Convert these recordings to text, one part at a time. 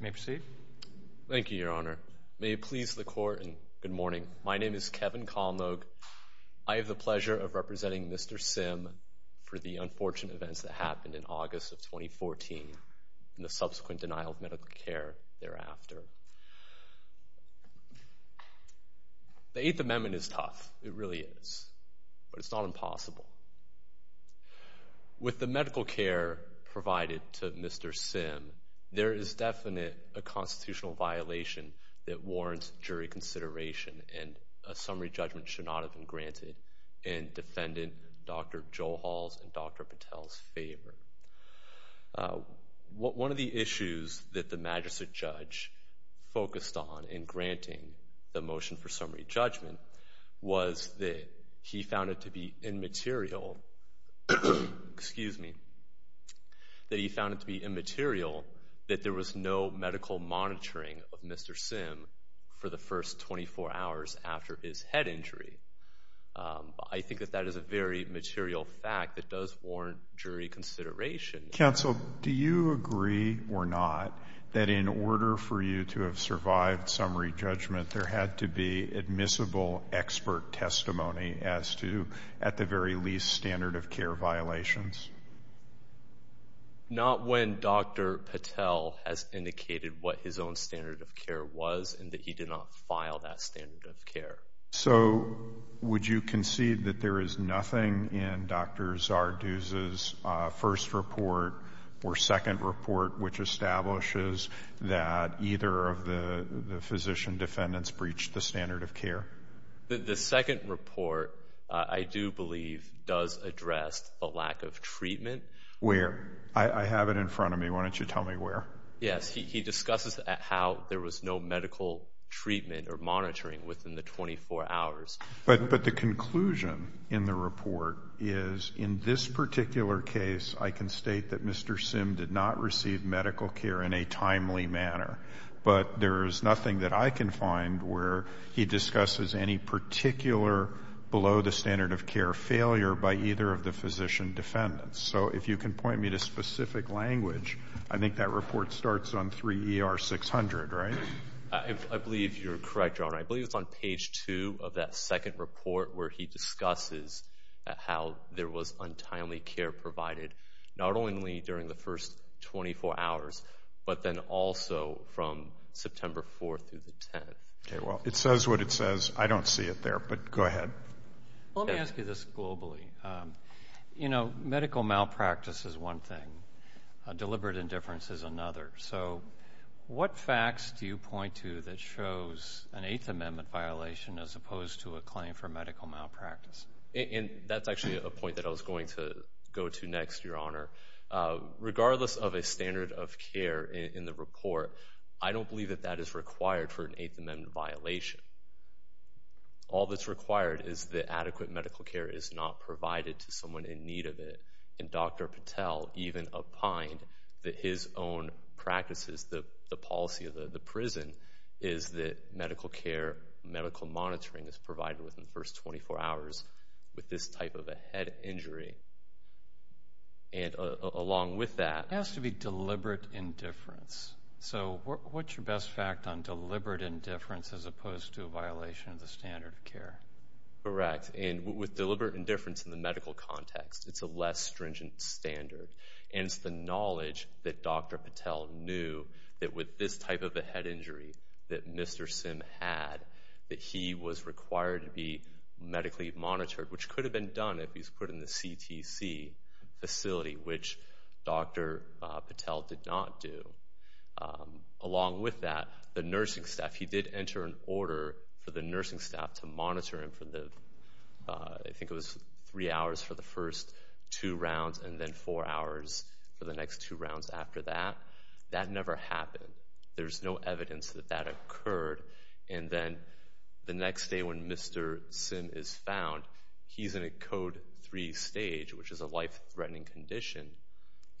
May I proceed? Thank you, Your Honor. May it please the Court, and good morning. My name is Kevin Kallnog. I have the pleasure of representing Mr. Sim for the unfortunate events that happened in August of 2014 and the subsequent denial of medical care thereafter. The Eighth Amendment is tough, it really is, but it's not impossible. With the medical care provided to Mr. Sim, there is definitely a constitutional violation that warrants jury consideration, and a summary judgment should not have been granted in defendant Dr. Joel Hall's and Dr. Patel's favor. One of the issues that the Magistrate Judge focused on in granting the motion for summary judgment was that he found it to be immaterial that there was no medical monitoring of Mr. Sim for the first 24 hours after his head injury. I think that that is a very material fact that does warrant jury consideration. Counsel, do you agree or not that in order for you to have survived summary judgment, there had to be admissible expert testimony as to, at the very least, standard of care violations? Not when Dr. Patel has indicated what his own standard of care was and that he did not file that standard of care. So would you concede that there is nothing in Dr. Zarduz's first report or second report which establishes that either of the physician defendants breached the standard of care? The second report, I do believe, does address the lack of treatment. Where? I have it in front of me. Why don't you tell me where? Yes. He discusses how there was no medical treatment or monitoring within the 24 hours. But the conclusion in the report is, in this particular case, I can state that Mr. Sim did not receive medical care in a timely manner. But there is nothing that I can find where he discusses any particular below-the-standard-of-care failure by either of the physician defendants. So if you can point me to specific language, I think that report starts on 3 ER 600, right? I believe you're correct, Your Honor. I believe it's on page 2 of that second report where he discusses how there was untimely care provided, not only during the first 24 hours, but then also from September 4 through the 10th. Okay. Well, it says what it says. I don't see it there, but go ahead. Let me ask you this globally. You know, medical malpractice is one thing. Deliberate indifference is another. So what facts do you point to that shows an Eighth Amendment violation as opposed to a claim for medical malpractice? And that's actually a point that I was going to go to next, Your Honor. Regardless of a standard of care in the report, I don't believe that that is required for an Eighth Amendment violation. All that's required is that adequate medical care is not provided to someone in need of it. And Dr. Patel even opined that his own practices, the policy of the prison, is that medical care, medical monitoring is provided within the first 24 hours with this type of a head injury. And along with that— It has to be deliberate indifference. So what's your best fact on deliberate indifference as opposed to a violation of the standard of care? Correct. And with deliberate indifference in the medical context, it's a less stringent standard. And it's the knowledge that Dr. Patel knew that with this type of a head injury that Mr. Sim had, that he was required to be medically monitored, which could have been done if he was put in the CTC facility, which Dr. Patel did not do. Along with that, the nursing staff— He did enter an order for the nursing staff to monitor him for the— two rounds and then four hours for the next two rounds after that. That never happened. There's no evidence that that occurred. And then the next day when Mr. Sim is found, he's in a Code 3 stage, which is a life-threatening condition.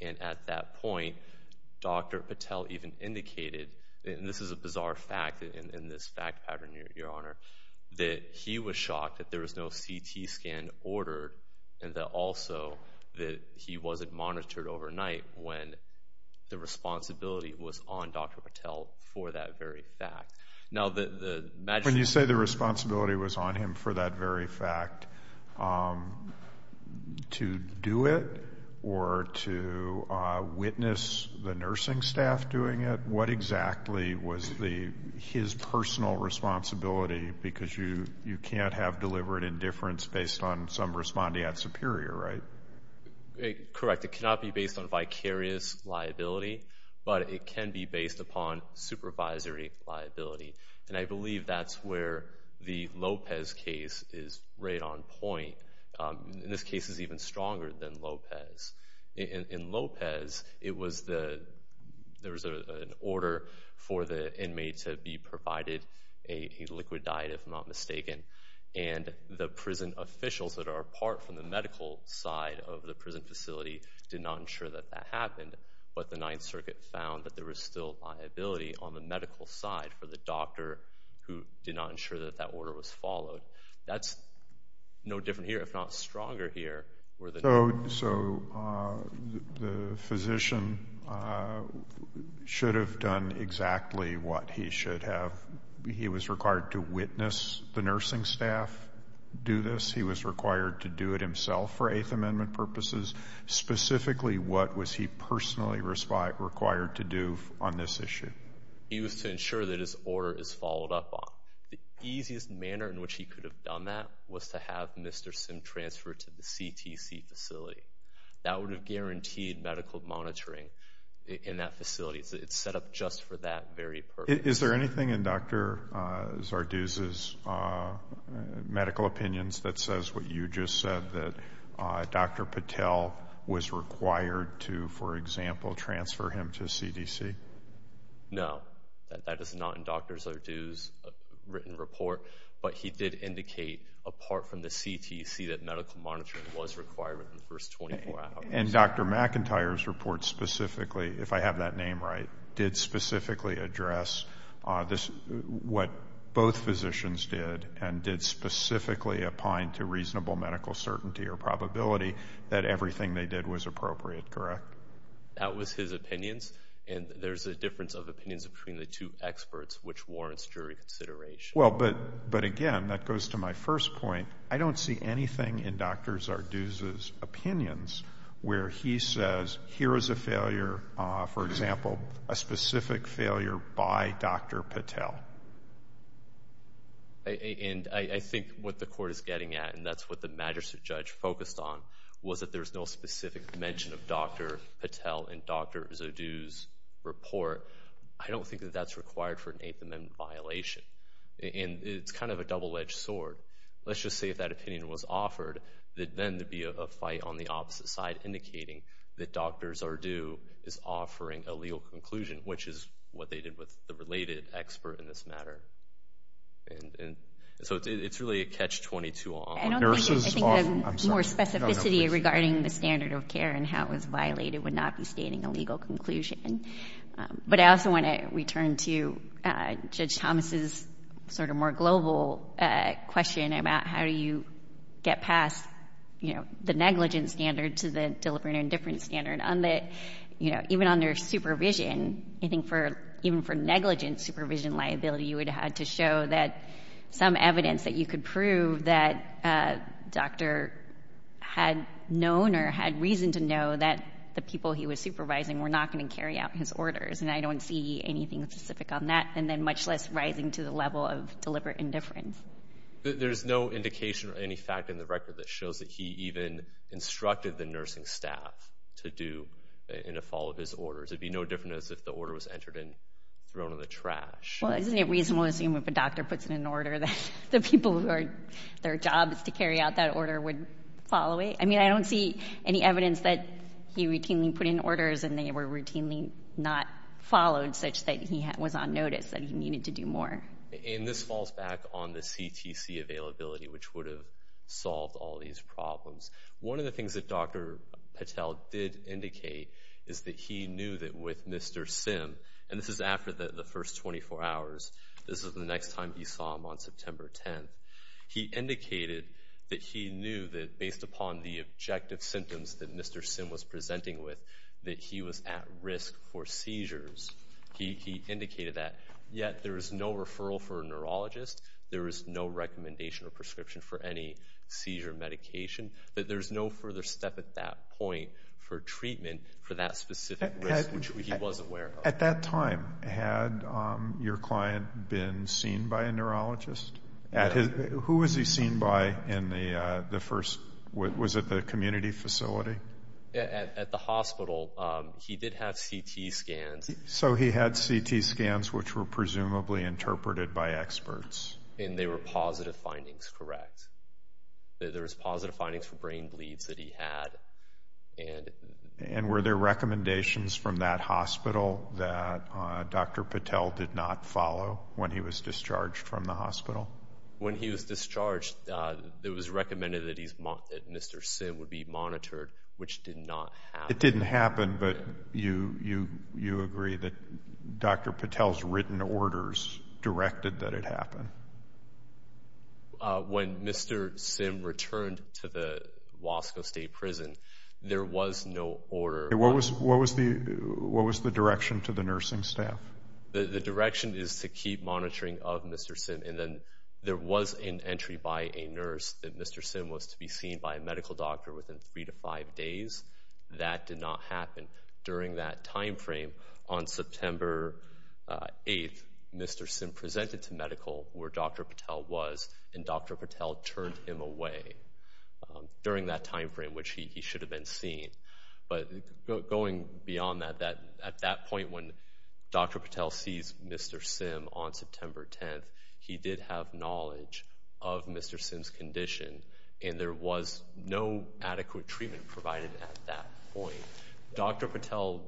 And at that point, Dr. Patel even indicated— and this is a bizarre fact in this fact pattern, Your Honor— that he was shocked that there was no CT scan ordered and that also that he wasn't monitored overnight when the responsibility was on Dr. Patel for that very fact. Now, the— When you say the responsibility was on him for that very fact, to do it or to witness the nursing staff doing it, what exactly was his personal responsibility? Because you can't have deliberate indifference based on some respondeat superior, right? Correct. It cannot be based on vicarious liability, but it can be based upon supervisory liability. And I believe that's where the Lopez case is right on point. And this case is even stronger than Lopez. In Lopez, there was an order for the inmate to be provided a liquid diet, if I'm not mistaken. And the prison officials that are apart from the medical side of the prison facility did not ensure that that happened. But the Ninth Circuit found that there was still liability on the medical side for the doctor who did not ensure that that order was followed. That's no different here, if not stronger here. So the physician should have done exactly what he should have. He was required to witness the nursing staff do this. He was required to do it himself for Eighth Amendment purposes. Specifically, what was he personally required to do on this issue? He was to ensure that his order is followed up on. The easiest manner in which he could have done that was to have Mr. Sim transfer to the CTC facility. That would have guaranteed medical monitoring in that facility. It's set up just for that very purpose. Is there anything in Dr. Zarduz's medical opinions that says what you just said, that Dr. Patel was required to, for example, transfer him to CDC? No, that is not in Dr. Zarduz's written report. But he did indicate, apart from the CTC, that medical monitoring was required within the first 24 hours. And Dr. McIntyre's report specifically, if I have that name right, did specifically address what both physicians did and did specifically opine to reasonable medical certainty or probability that everything they did was appropriate, correct? That was his opinions. And there's a difference of opinions between the two experts, which warrants jury consideration. Well, but again, that goes to my first point. I don't see anything in Dr. Zarduz's opinions where he says, here is a failure, for example, a specific failure by Dr. Patel. And I think what the Court is getting at, and that's what the Magistrate Judge focused on, was that there's no specific mention of Dr. Patel in Dr. Zarduz's report. I don't think that that's required for an Eighth Amendment violation. And it's kind of a double-edged sword. Let's just say if that opinion was offered, that then there'd be a fight on the opposite side indicating that Dr. Zarduz is offering a legal conclusion, which is what they did with the related expert in this matter. And so it's really a catch-22 on it. I don't think the more specificity regarding the standard of care and how it was violated would not be stating a legal conclusion. But I also want to return to Judge Thomas's sort of more global question about how do you get past, you know, the negligence standard to the deliberate indifference standard. On the, you know, even on their supervision, I think even for negligence supervision liability, you would have to show that some evidence that you could prove that a doctor had known or had reason to know that the people he was supervising were not going to carry out his orders. And I don't see anything specific on that, and then much less rising to the level of deliberate indifference. There's no indication or any fact in the record that shows that he even instructed the nursing staff to do and to follow his orders. It would be no different as if the order was entered and thrown in the trash. Well, isn't it reasonable to assume if a doctor puts in an order that the people who are, their job is to carry out that order would follow it? I mean, I don't see any evidence that he routinely put in orders and they were routinely not followed such that he was on notice, that he needed to do more. And this falls back on the CTC availability, which would have solved all these problems. One of the things that Dr. Patel did indicate is that he knew that with Mr. Sim, and this is after the first 24 hours, this is the next time he saw him on September 10th, he indicated that he knew that based upon the objective symptoms that Mr. Sim was presenting with, that he was at risk for seizures. He indicated that, yet there is no referral for a neurologist, there is no recommendation or prescription for any seizure medication, that there's no further step at that point for treatment for that specific risk, which he was aware of. At that time, had your client been seen by a neurologist? Who was he seen by in the first, was it the community facility? At the hospital, he did have CT scans. So he had CT scans, which were presumably interpreted by experts. And they were positive findings, correct? There was positive findings for brain bleeds that he had. And were there recommendations from that hospital that Dr. Patel did not follow when he was discharged from the hospital? When he was discharged, it was recommended that Mr. Sim would be monitored, which did not happen. It didn't happen, but you agree that Dr. Patel's written orders directed that it happen? When Mr. Sim returned to the Wasco State Prison, there was no order. What was the direction to the nursing staff? The direction is to keep monitoring of Mr. Sim. And then there was an entry by a nurse that Mr. Sim was to be seen by a medical doctor within three to five days. That did not happen during that time frame. On September 8th, Mr. Sim presented to medical where Dr. Patel was, and Dr. Patel turned him away during that time frame, which he should have been seen. But going beyond that, at that point when Dr. Patel sees Mr. Sim on September 10th, he did have knowledge of Mr. Sim's condition, and there was no adequate treatment provided at that point. Dr. Patel,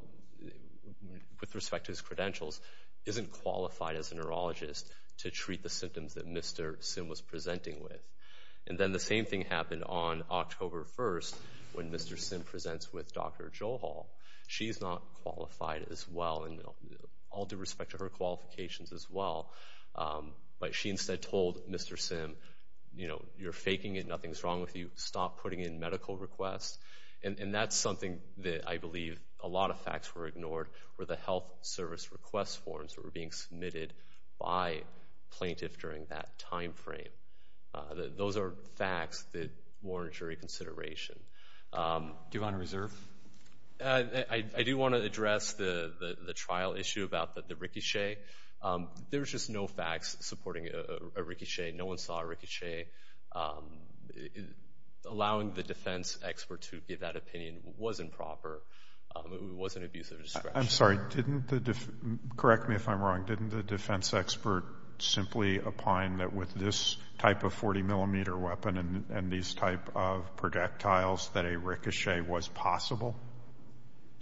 with respect to his credentials, isn't qualified as a neurologist to treat the symptoms that Mr. Sim was presenting with. And then the same thing happened on October 1st when Mr. Sim presents with Dr. Johal. She's not qualified as well, and all due respect to her qualifications as well, but she instead told Mr. Sim, you know, you're faking it, nothing's wrong with you, stop putting in medical requests. And that's something that I believe a lot of facts were ignored were the health service request forms that were being submitted by plaintiff during that time frame. Those are facts that warrant jury consideration. Do you want to reserve? I do want to address the trial issue about the ricochet. There's just no facts supporting a ricochet. No one saw a ricochet. Allowing the defense expert to give that opinion was improper. It was an abuse of discretion. I'm sorry, correct me if I'm wrong, didn't the defense expert simply opine that with this type of 40-millimeter weapon and these type of projectiles that a ricochet was possible?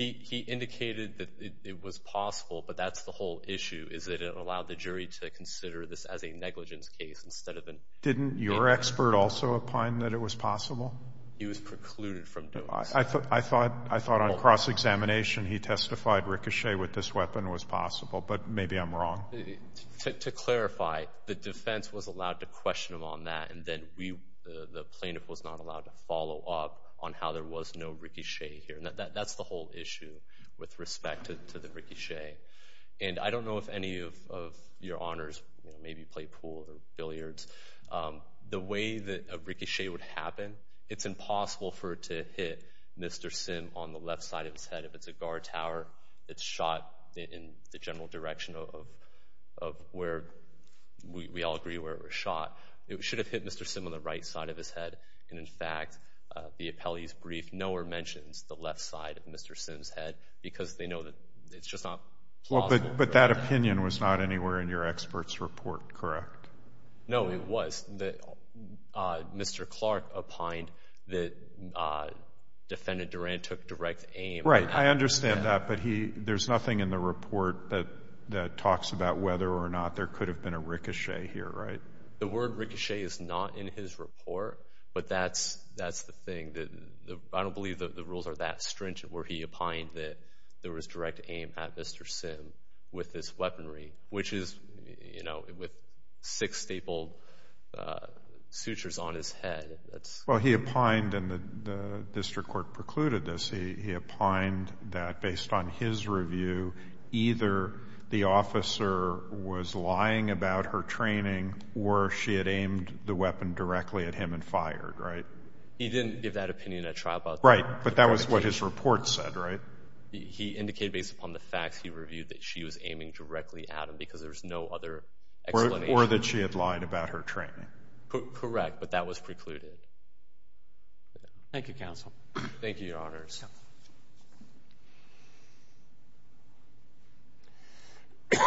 He indicated that it was possible, but that's the whole issue, is that it allowed the jury to consider this as a negligence case instead of an abuse. Didn't your expert also opine that it was possible? He was precluded from doing so. I thought on cross-examination he testified ricochet with this weapon was possible, but maybe I'm wrong. To clarify, the defense was allowed to question him on that, and then the plaintiff was not allowed to follow up on how there was no ricochet here. That's the whole issue with respect to the ricochet. And I don't know if any of your honors maybe play pool or billiards. The way that a ricochet would happen, it's impossible for it to hit Mr. Sim on the left side of his head. If it's a guard tower, it's shot in the general direction of where we all agree where it was shot. It should have hit Mr. Sim on the right side of his head, and in fact the appellee's brief nowhere mentions the left side of Mr. Sim's head because they know that it's just not plausible. But that opinion was not anywhere in your expert's report, correct? No, it was. Mr. Clark opined that Defendant Duran took direct aim. Right, I understand that, but there's nothing in the report that talks about whether or not there could have been a ricochet here, right? The word ricochet is not in his report, but that's the thing. I don't believe the rules are that stringent where he opined that there was direct aim at Mr. Sim with his weaponry, which is, you know, with six stapled sutures on his head. Well, he opined, and the district court precluded this, he opined that based on his review either the officer was lying about her training or she had aimed the weapon directly at him and fired, right? He didn't give that opinion at trial. Right, but that was what his report said, right? He indicated based upon the facts he reviewed that she was aiming directly at him because there was no other explanation. Or that she had lied about her training. Correct, but that was precluded. Thank you, Counsel. Thank you, Your Honors. Good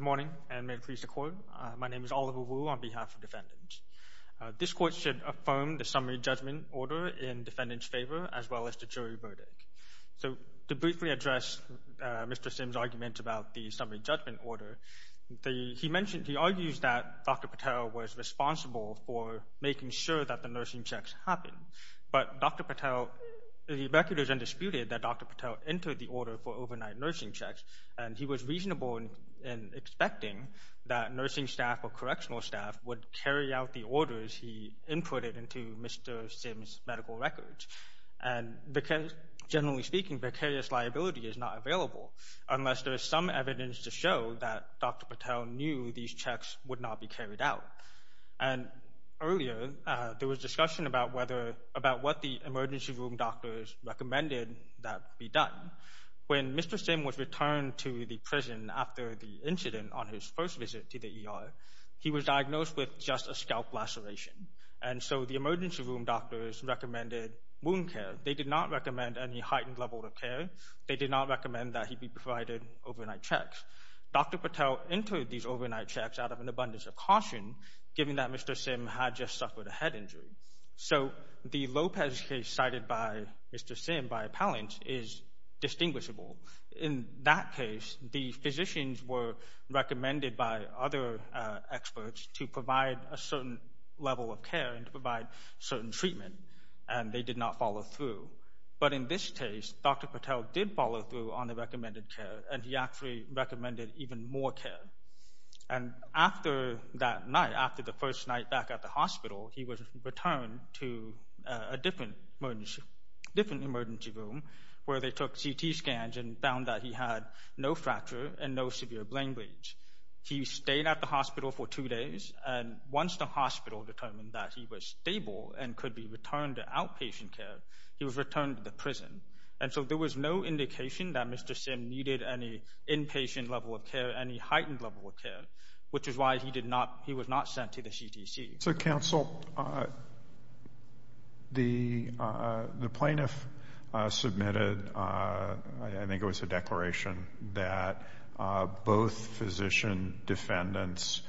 morning, and may it please the Court. My name is Oliver Wu on behalf of defendants. This Court should affirm the summary judgment order in defendant's favor as well as the jury verdict. So to briefly address Mr. Sim's argument about the summary judgment order, he mentioned he argues that Dr. Patel was responsible for making sure that the nursing checks happened, but Dr. Patel, the record is undisputed that Dr. Patel entered the order for overnight nursing checks, and he was reasonable in expecting that nursing staff or correctional staff would carry out the orders he inputted into Mr. Sim's medical records. And generally speaking, vicarious liability is not available unless there is some evidence to show that Dr. Patel knew these checks would not be carried out. And earlier, there was discussion about what the emergency room doctors recommended that be done. When Mr. Sim was returned to the prison after the incident on his first visit to the ER, he was diagnosed with just a scalp laceration. And so the emergency room doctors recommended wound care. They did not recommend any heightened level of care. They did not recommend that he be provided overnight checks. Dr. Patel entered these overnight checks out of an abundance of caution, given that Mr. Sim had just suffered a head injury. So the Lopez case cited by Mr. Sim by appellants is distinguishable. In that case, the physicians were recommended by other experts to provide a certain level of care and to provide certain treatment, and they did not follow through. But in this case, Dr. Patel did follow through on the recommended care, and he actually recommended even more care. And after that night, after the first night back at the hospital, he was returned to a different emergency room where they took CT scans and found that he had no fracture and no severe brain bleeds. He stayed at the hospital for two days, and once the hospital determined that he was stable and could be returned to outpatient care, he was returned to the prison. And so there was no indication that Mr. Sim needed any inpatient level of care, any heightened level of care, which is why he was not sent to the CDC. So, counsel, the plaintiff submitted, I think it was a declaration, that both physician defendants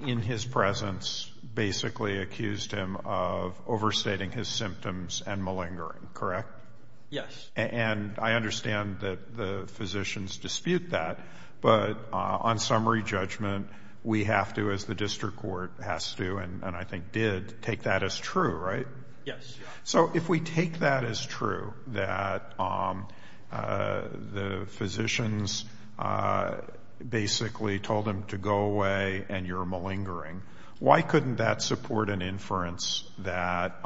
in his presence basically accused him of overstating his symptoms and malingering, correct? Yes. And I understand that the physicians dispute that, but on summary judgment, we have to, as the district court has to and I think did, take that as true, right? Yes. So if we take that as true, that the physicians basically told him to go away and you're malingering, why couldn't that support an inference that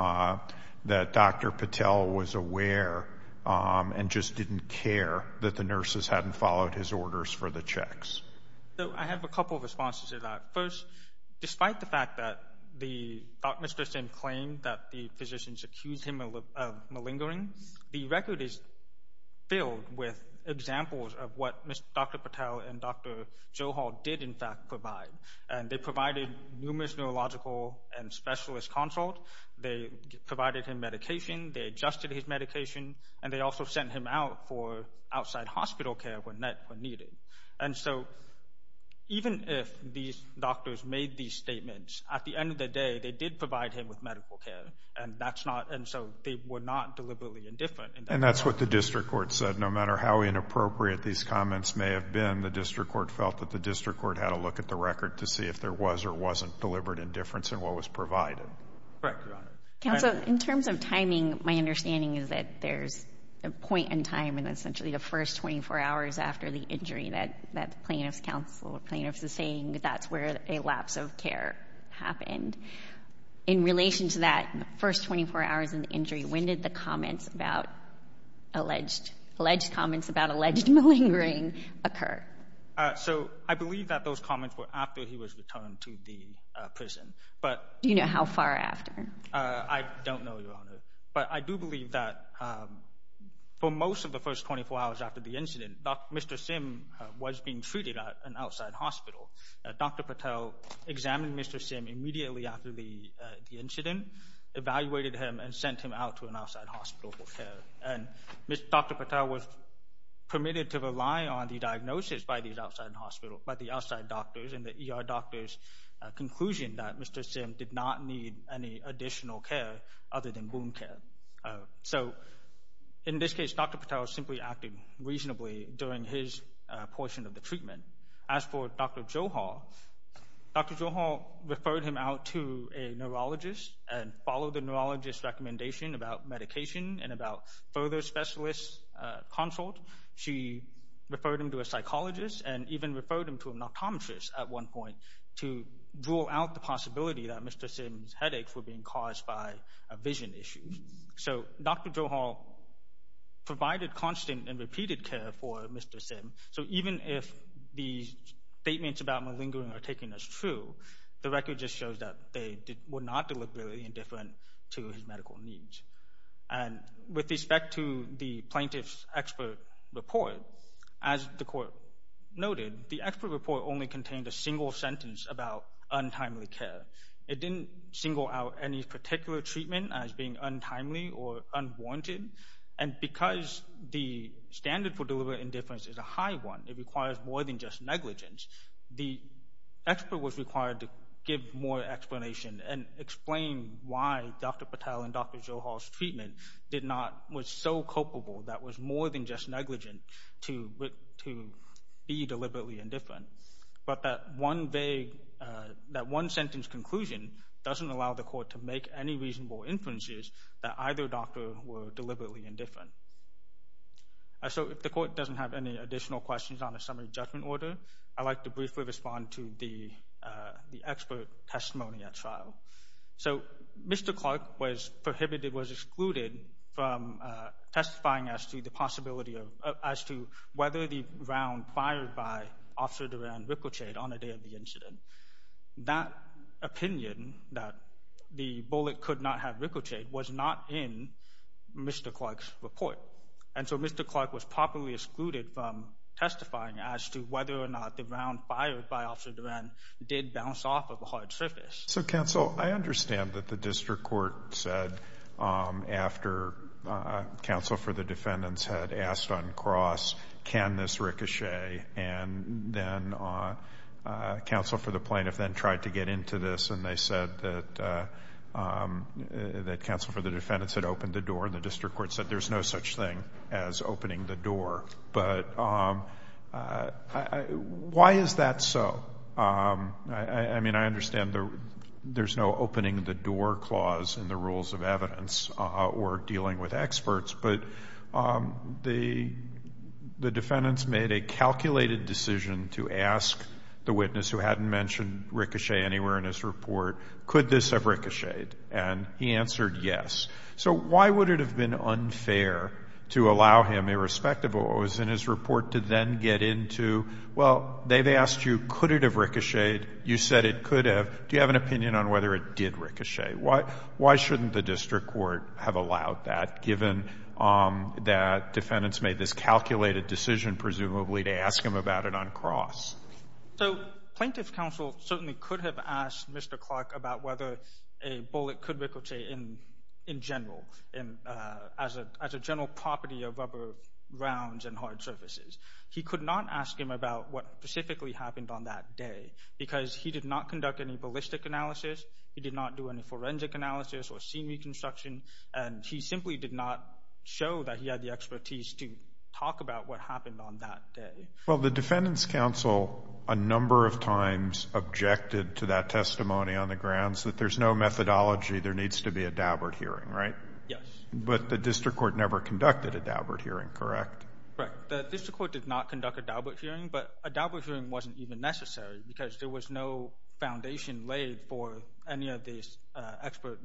Dr. Patel was aware and just didn't care that the nurses hadn't followed his orders for the checks? I have a couple of responses to that. First, despite the fact that Mr. Sim claimed that the physicians accused him of malingering, the record is filled with examples of what Dr. Patel and Dr. Johal did, in fact, provide. And they provided numerous neurological and specialist consults. They provided him medication. They adjusted his medication. And they also sent him out for outside hospital care when needed. And so even if these doctors made these statements, at the end of the day, they did provide him with medical care, and so they were not deliberately indifferent. And that's what the district court said. No matter how inappropriate these comments may have been, the district court felt that the district court had a look at the record to see if there was or wasn't deliberate indifference in what was provided. Correct, Your Honor. Counsel, in terms of timing, my understanding is that there's a point in time in essentially the first 24 hours after the injury that the plaintiff's counsel or plaintiff's is saying that that's where a lapse of care happened. In relation to that first 24 hours in the injury, when did the comments about alleged malingering occur? So I believe that those comments were after he was returned to the prison. Do you know how far after? I don't know, Your Honor. But I do believe that for most of the first 24 hours after the incident, Mr. Sim was being treated at an outside hospital. Dr. Patel examined Mr. Sim immediately after the incident, evaluated him, and sent him out to an outside hospital for care. And Dr. Patel was permitted to rely on the diagnosis by the outside doctors and the ER doctor's conclusion that Mr. Sim did not need any additional care other than wound care. So in this case, Dr. Patel simply acted reasonably during his portion of the treatment. As for Dr. Johar, Dr. Johar referred him out to a neurologist and followed the neurologist's recommendation about medication and about further specialist consult. She referred him to a psychologist and even referred him to an optometrist at one point to rule out the possibility that Mr. Sim's headaches were being caused by a vision issue. So Dr. Johar provided constant and repeated care for Mr. Sim. So even if the statements about malingering are taken as true, the record just shows that they were not deliberately indifferent to his medical needs. And with respect to the plaintiff's expert report, as the court noted, the expert report only contained a single sentence about untimely care. It didn't single out any particular treatment as being untimely or unwarranted. And because the standard for deliberate indifference is a high one, it requires more than just negligence, the expert was required to give more explanation and explain why Dr. Patel and Dr. Johar's treatment was so culpable that was more than just negligent to be deliberately indifferent. But that one sentence conclusion doesn't allow the court to make any reasonable inferences that either doctor were deliberately indifferent. So if the court doesn't have any additional questions on the summary judgment order, I'd like to briefly respond to the expert testimony at trial. So Mr. Clark was prohibited, was excluded from testifying as to the possibility of, as to whether the round fired by Officer Durand Ricochet on the day of the incident. That opinion, that the bullet could not have ricocheted, was not in Mr. Clark's report. And so Mr. Clark was properly excluded from testifying as to whether or not the round fired by Officer Durand did bounce off of a hard surface. So, counsel, I understand that the district court said after counsel for the defendants had asked on cross, can this ricochet and then counsel for the plaintiff then tried to get into this and they said that counsel for the defendants had opened the door and the district court said there's no such thing as opening the door. But why is that so? I mean, I understand there's no opening the door clause in the rules of evidence or dealing with experts, but the defendants made a calculated decision to ask the witness who hadn't mentioned ricochet anywhere in his report, could this have ricocheted? And he answered yes. So why would it have been unfair to allow him, irrespective of what was in his report, to then get into, well, they've asked you, could it have ricocheted? You said it could have. Do you have an opinion on whether it did ricochet? Why shouldn't the district court have allowed that, given that defendants made this calculated decision, presumably, to ask him about it on cross? So plaintiff's counsel certainly could have asked Mr. Clark about whether a bullet could ricochet in general as a general property of rubber rounds and hard surfaces. He could not ask him about what specifically happened on that day because he did not conduct any ballistic analysis, he did not do any forensic analysis or scene reconstruction, and he simply did not show that he had the expertise to talk about what happened on that day. Well, the defendants' counsel a number of times objected to that testimony on the grounds that there's no methodology, there needs to be a Daubert hearing, right? Yes. But the district court never conducted a Daubert hearing, correct? Correct. The district court did not conduct a Daubert hearing, but a Daubert hearing wasn't even necessary because there was no foundation laid for any of these expert,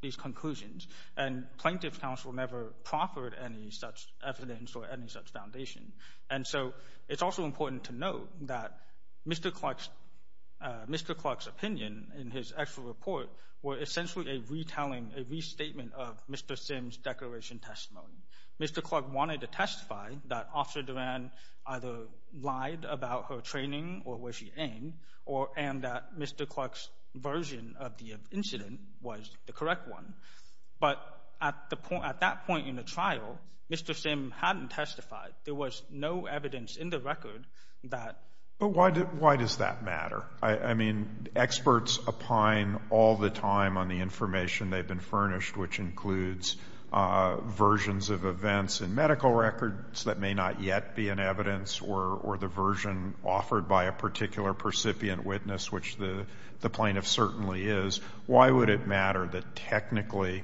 these conclusions. And plaintiff's counsel never proffered any such evidence or any such foundation. And so it's also important to note that Mr. Clark's opinion in his actual report were essentially a retelling, a restatement of Mr. Sim's declaration testimony. Mr. Clark wanted to testify that Officer Duran either lied about her training or where she aimed and that Mr. Clark's version of the incident was the correct one. But at that point in the trial, Mr. Sim hadn't testified. There was no evidence in the record that ---- But why does that matter? I mean, experts opine all the time on the information they've been furnished, which includes versions of events in medical records that may not yet be in evidence or the version offered by a particular percipient witness, which the plaintiff certainly is. Why would it matter that technically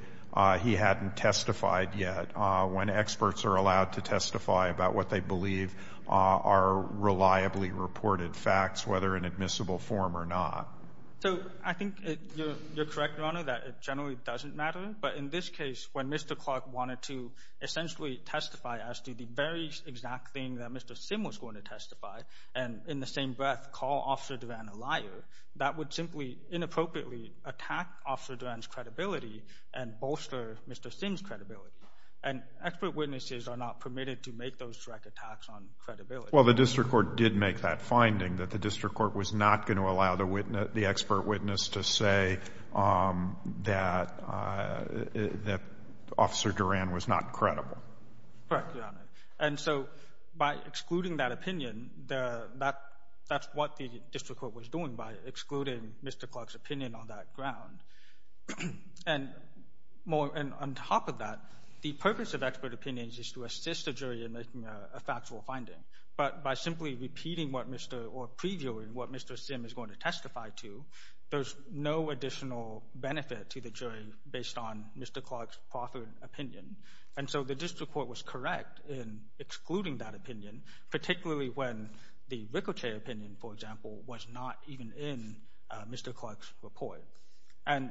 he hadn't testified yet when experts are allowed to testify about what they believe are reliably reported facts, whether in admissible form or not? So I think you're correct, Your Honor, that it generally doesn't matter. But in this case, when Mr. Clark wanted to essentially testify as to the very exact thing that Mr. Sim was going to testify and in the same breath call Officer Duran a liar, that would simply inappropriately attack Officer Duran's credibility and bolster Mr. Sim's credibility. And expert witnesses are not permitted to make those direct attacks on credibility. Well, the district court did make that finding, that the district court was not going to allow the expert witness to say that Officer Duran was not credible. Correct, Your Honor. And so by excluding that opinion, that's what the district court was doing by excluding Mr. Clark's opinion on that ground. And on top of that, the purpose of expert opinions is to assist the jury in making a factual finding. But by simply repeating or previewing what Mr. Sim is going to testify to, there's no additional benefit to the jury based on Mr. Clark's proffered opinion. And so the district court was correct in excluding that opinion, particularly when the Ricochet opinion, for example, was not even in Mr. Clark's report. And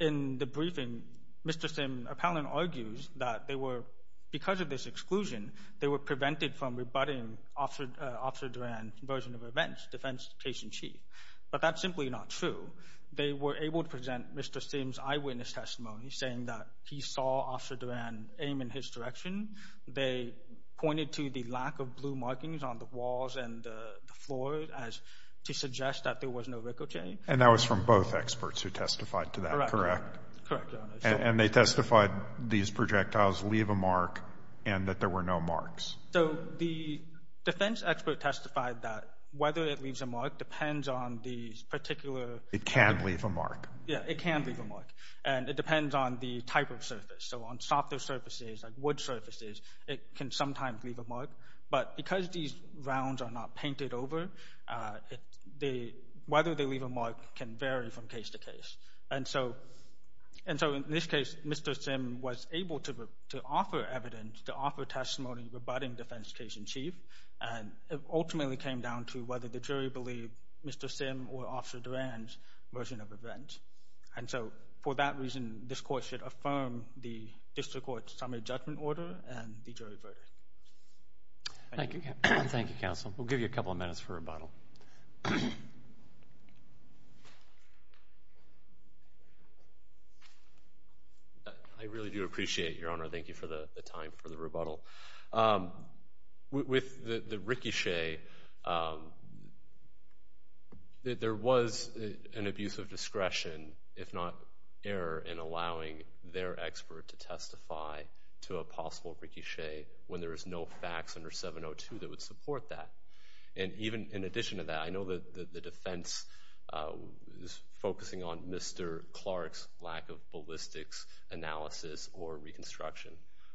in the briefing, Mr. Sim appellant argues that they were, because of this exclusion, they were prevented from rebutting Officer Duran's version of events, defense case in chief. But that's simply not true. They were able to present Mr. Sim's eyewitness testimony saying that he saw Officer Duran aim in his direction. They pointed to the lack of blue markings on the walls and the floor to suggest that there was no Ricochet. And that was from both experts who testified to that, correct? Correct, Your Honor. And they testified these projectiles leave a mark and that there were no marks. So the defense expert testified that whether it leaves a mark depends on the particular It can leave a mark. Yeah, it can leave a mark. And it depends on the type of surface. So on softer surfaces like wood surfaces, it can sometimes leave a mark. But because these rounds are not painted over, whether they leave a mark can vary from case to case. And so in this case, Mr. Sim was able to offer evidence, to offer testimony rebutting defense case in chief. And it ultimately came down to whether the jury believed Mr. Sim or Officer Duran's version of events. And so for that reason, this court should affirm the district court's summary judgment order and the jury verdict. Thank you, counsel. We'll give you a couple of minutes for rebuttal. I really do appreciate it, Your Honor. Thank you for the time for the rebuttal. With the ricochet, there was an abuse of discretion, if not error, in allowing their expert to testify to a possible ricochet when there is no facts under 702 that would support that. And even in addition to that, I know that the defense is focusing on Mr. Clark's lack of ballistics analysis or reconstruction.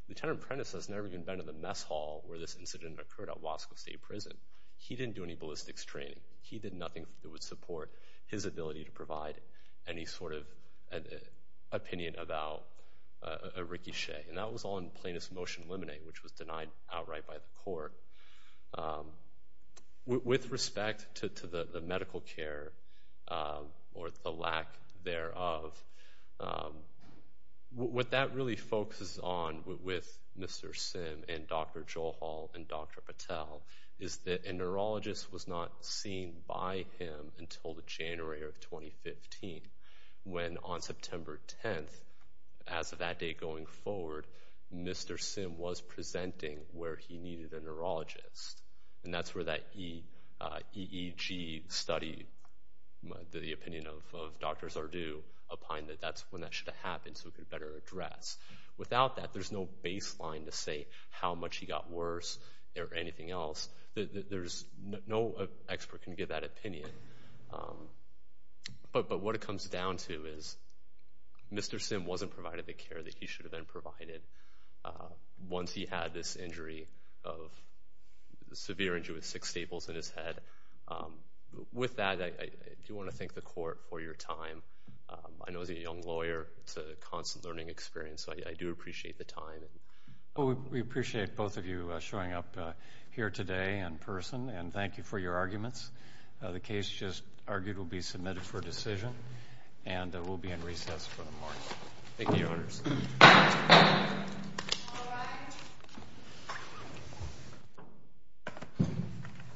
Lieutenant Prentiss has never even been to the mess hall where this incident occurred at Wasco State Prison. He didn't do any ballistics training. He did nothing that would support his ability to provide any sort of opinion about a ricochet. And that was all in plaintiff's motion eliminate, which was denied outright by the court. With respect to the medical care or the lack thereof, what that really focuses on with Mr. Sim and Dr. Joel Hall and Dr. Patel is that a neurologist was not seen by him until the January of 2015, when on September 10th, as of that day going forward, Mr. Sim was presenting where he needed a neurologist. And that's where that EEG study, the opinion of Dr. Zardew, opined that that's when that should have happened so it could better address. Without that, there's no baseline to say how much he got worse or anything else. No expert can give that opinion. But what it comes down to is Mr. Sim wasn't provided the care that he should have been provided once he had this severe injury with six staples in his head. With that, I do want to thank the court for your time. I know as a young lawyer, it's a constant learning experience, so I do appreciate the time. We appreciate both of you showing up here today in person, and thank you for your arguments. The case just argued will be submitted for decision, and we'll be in recess for the morning. Thank you.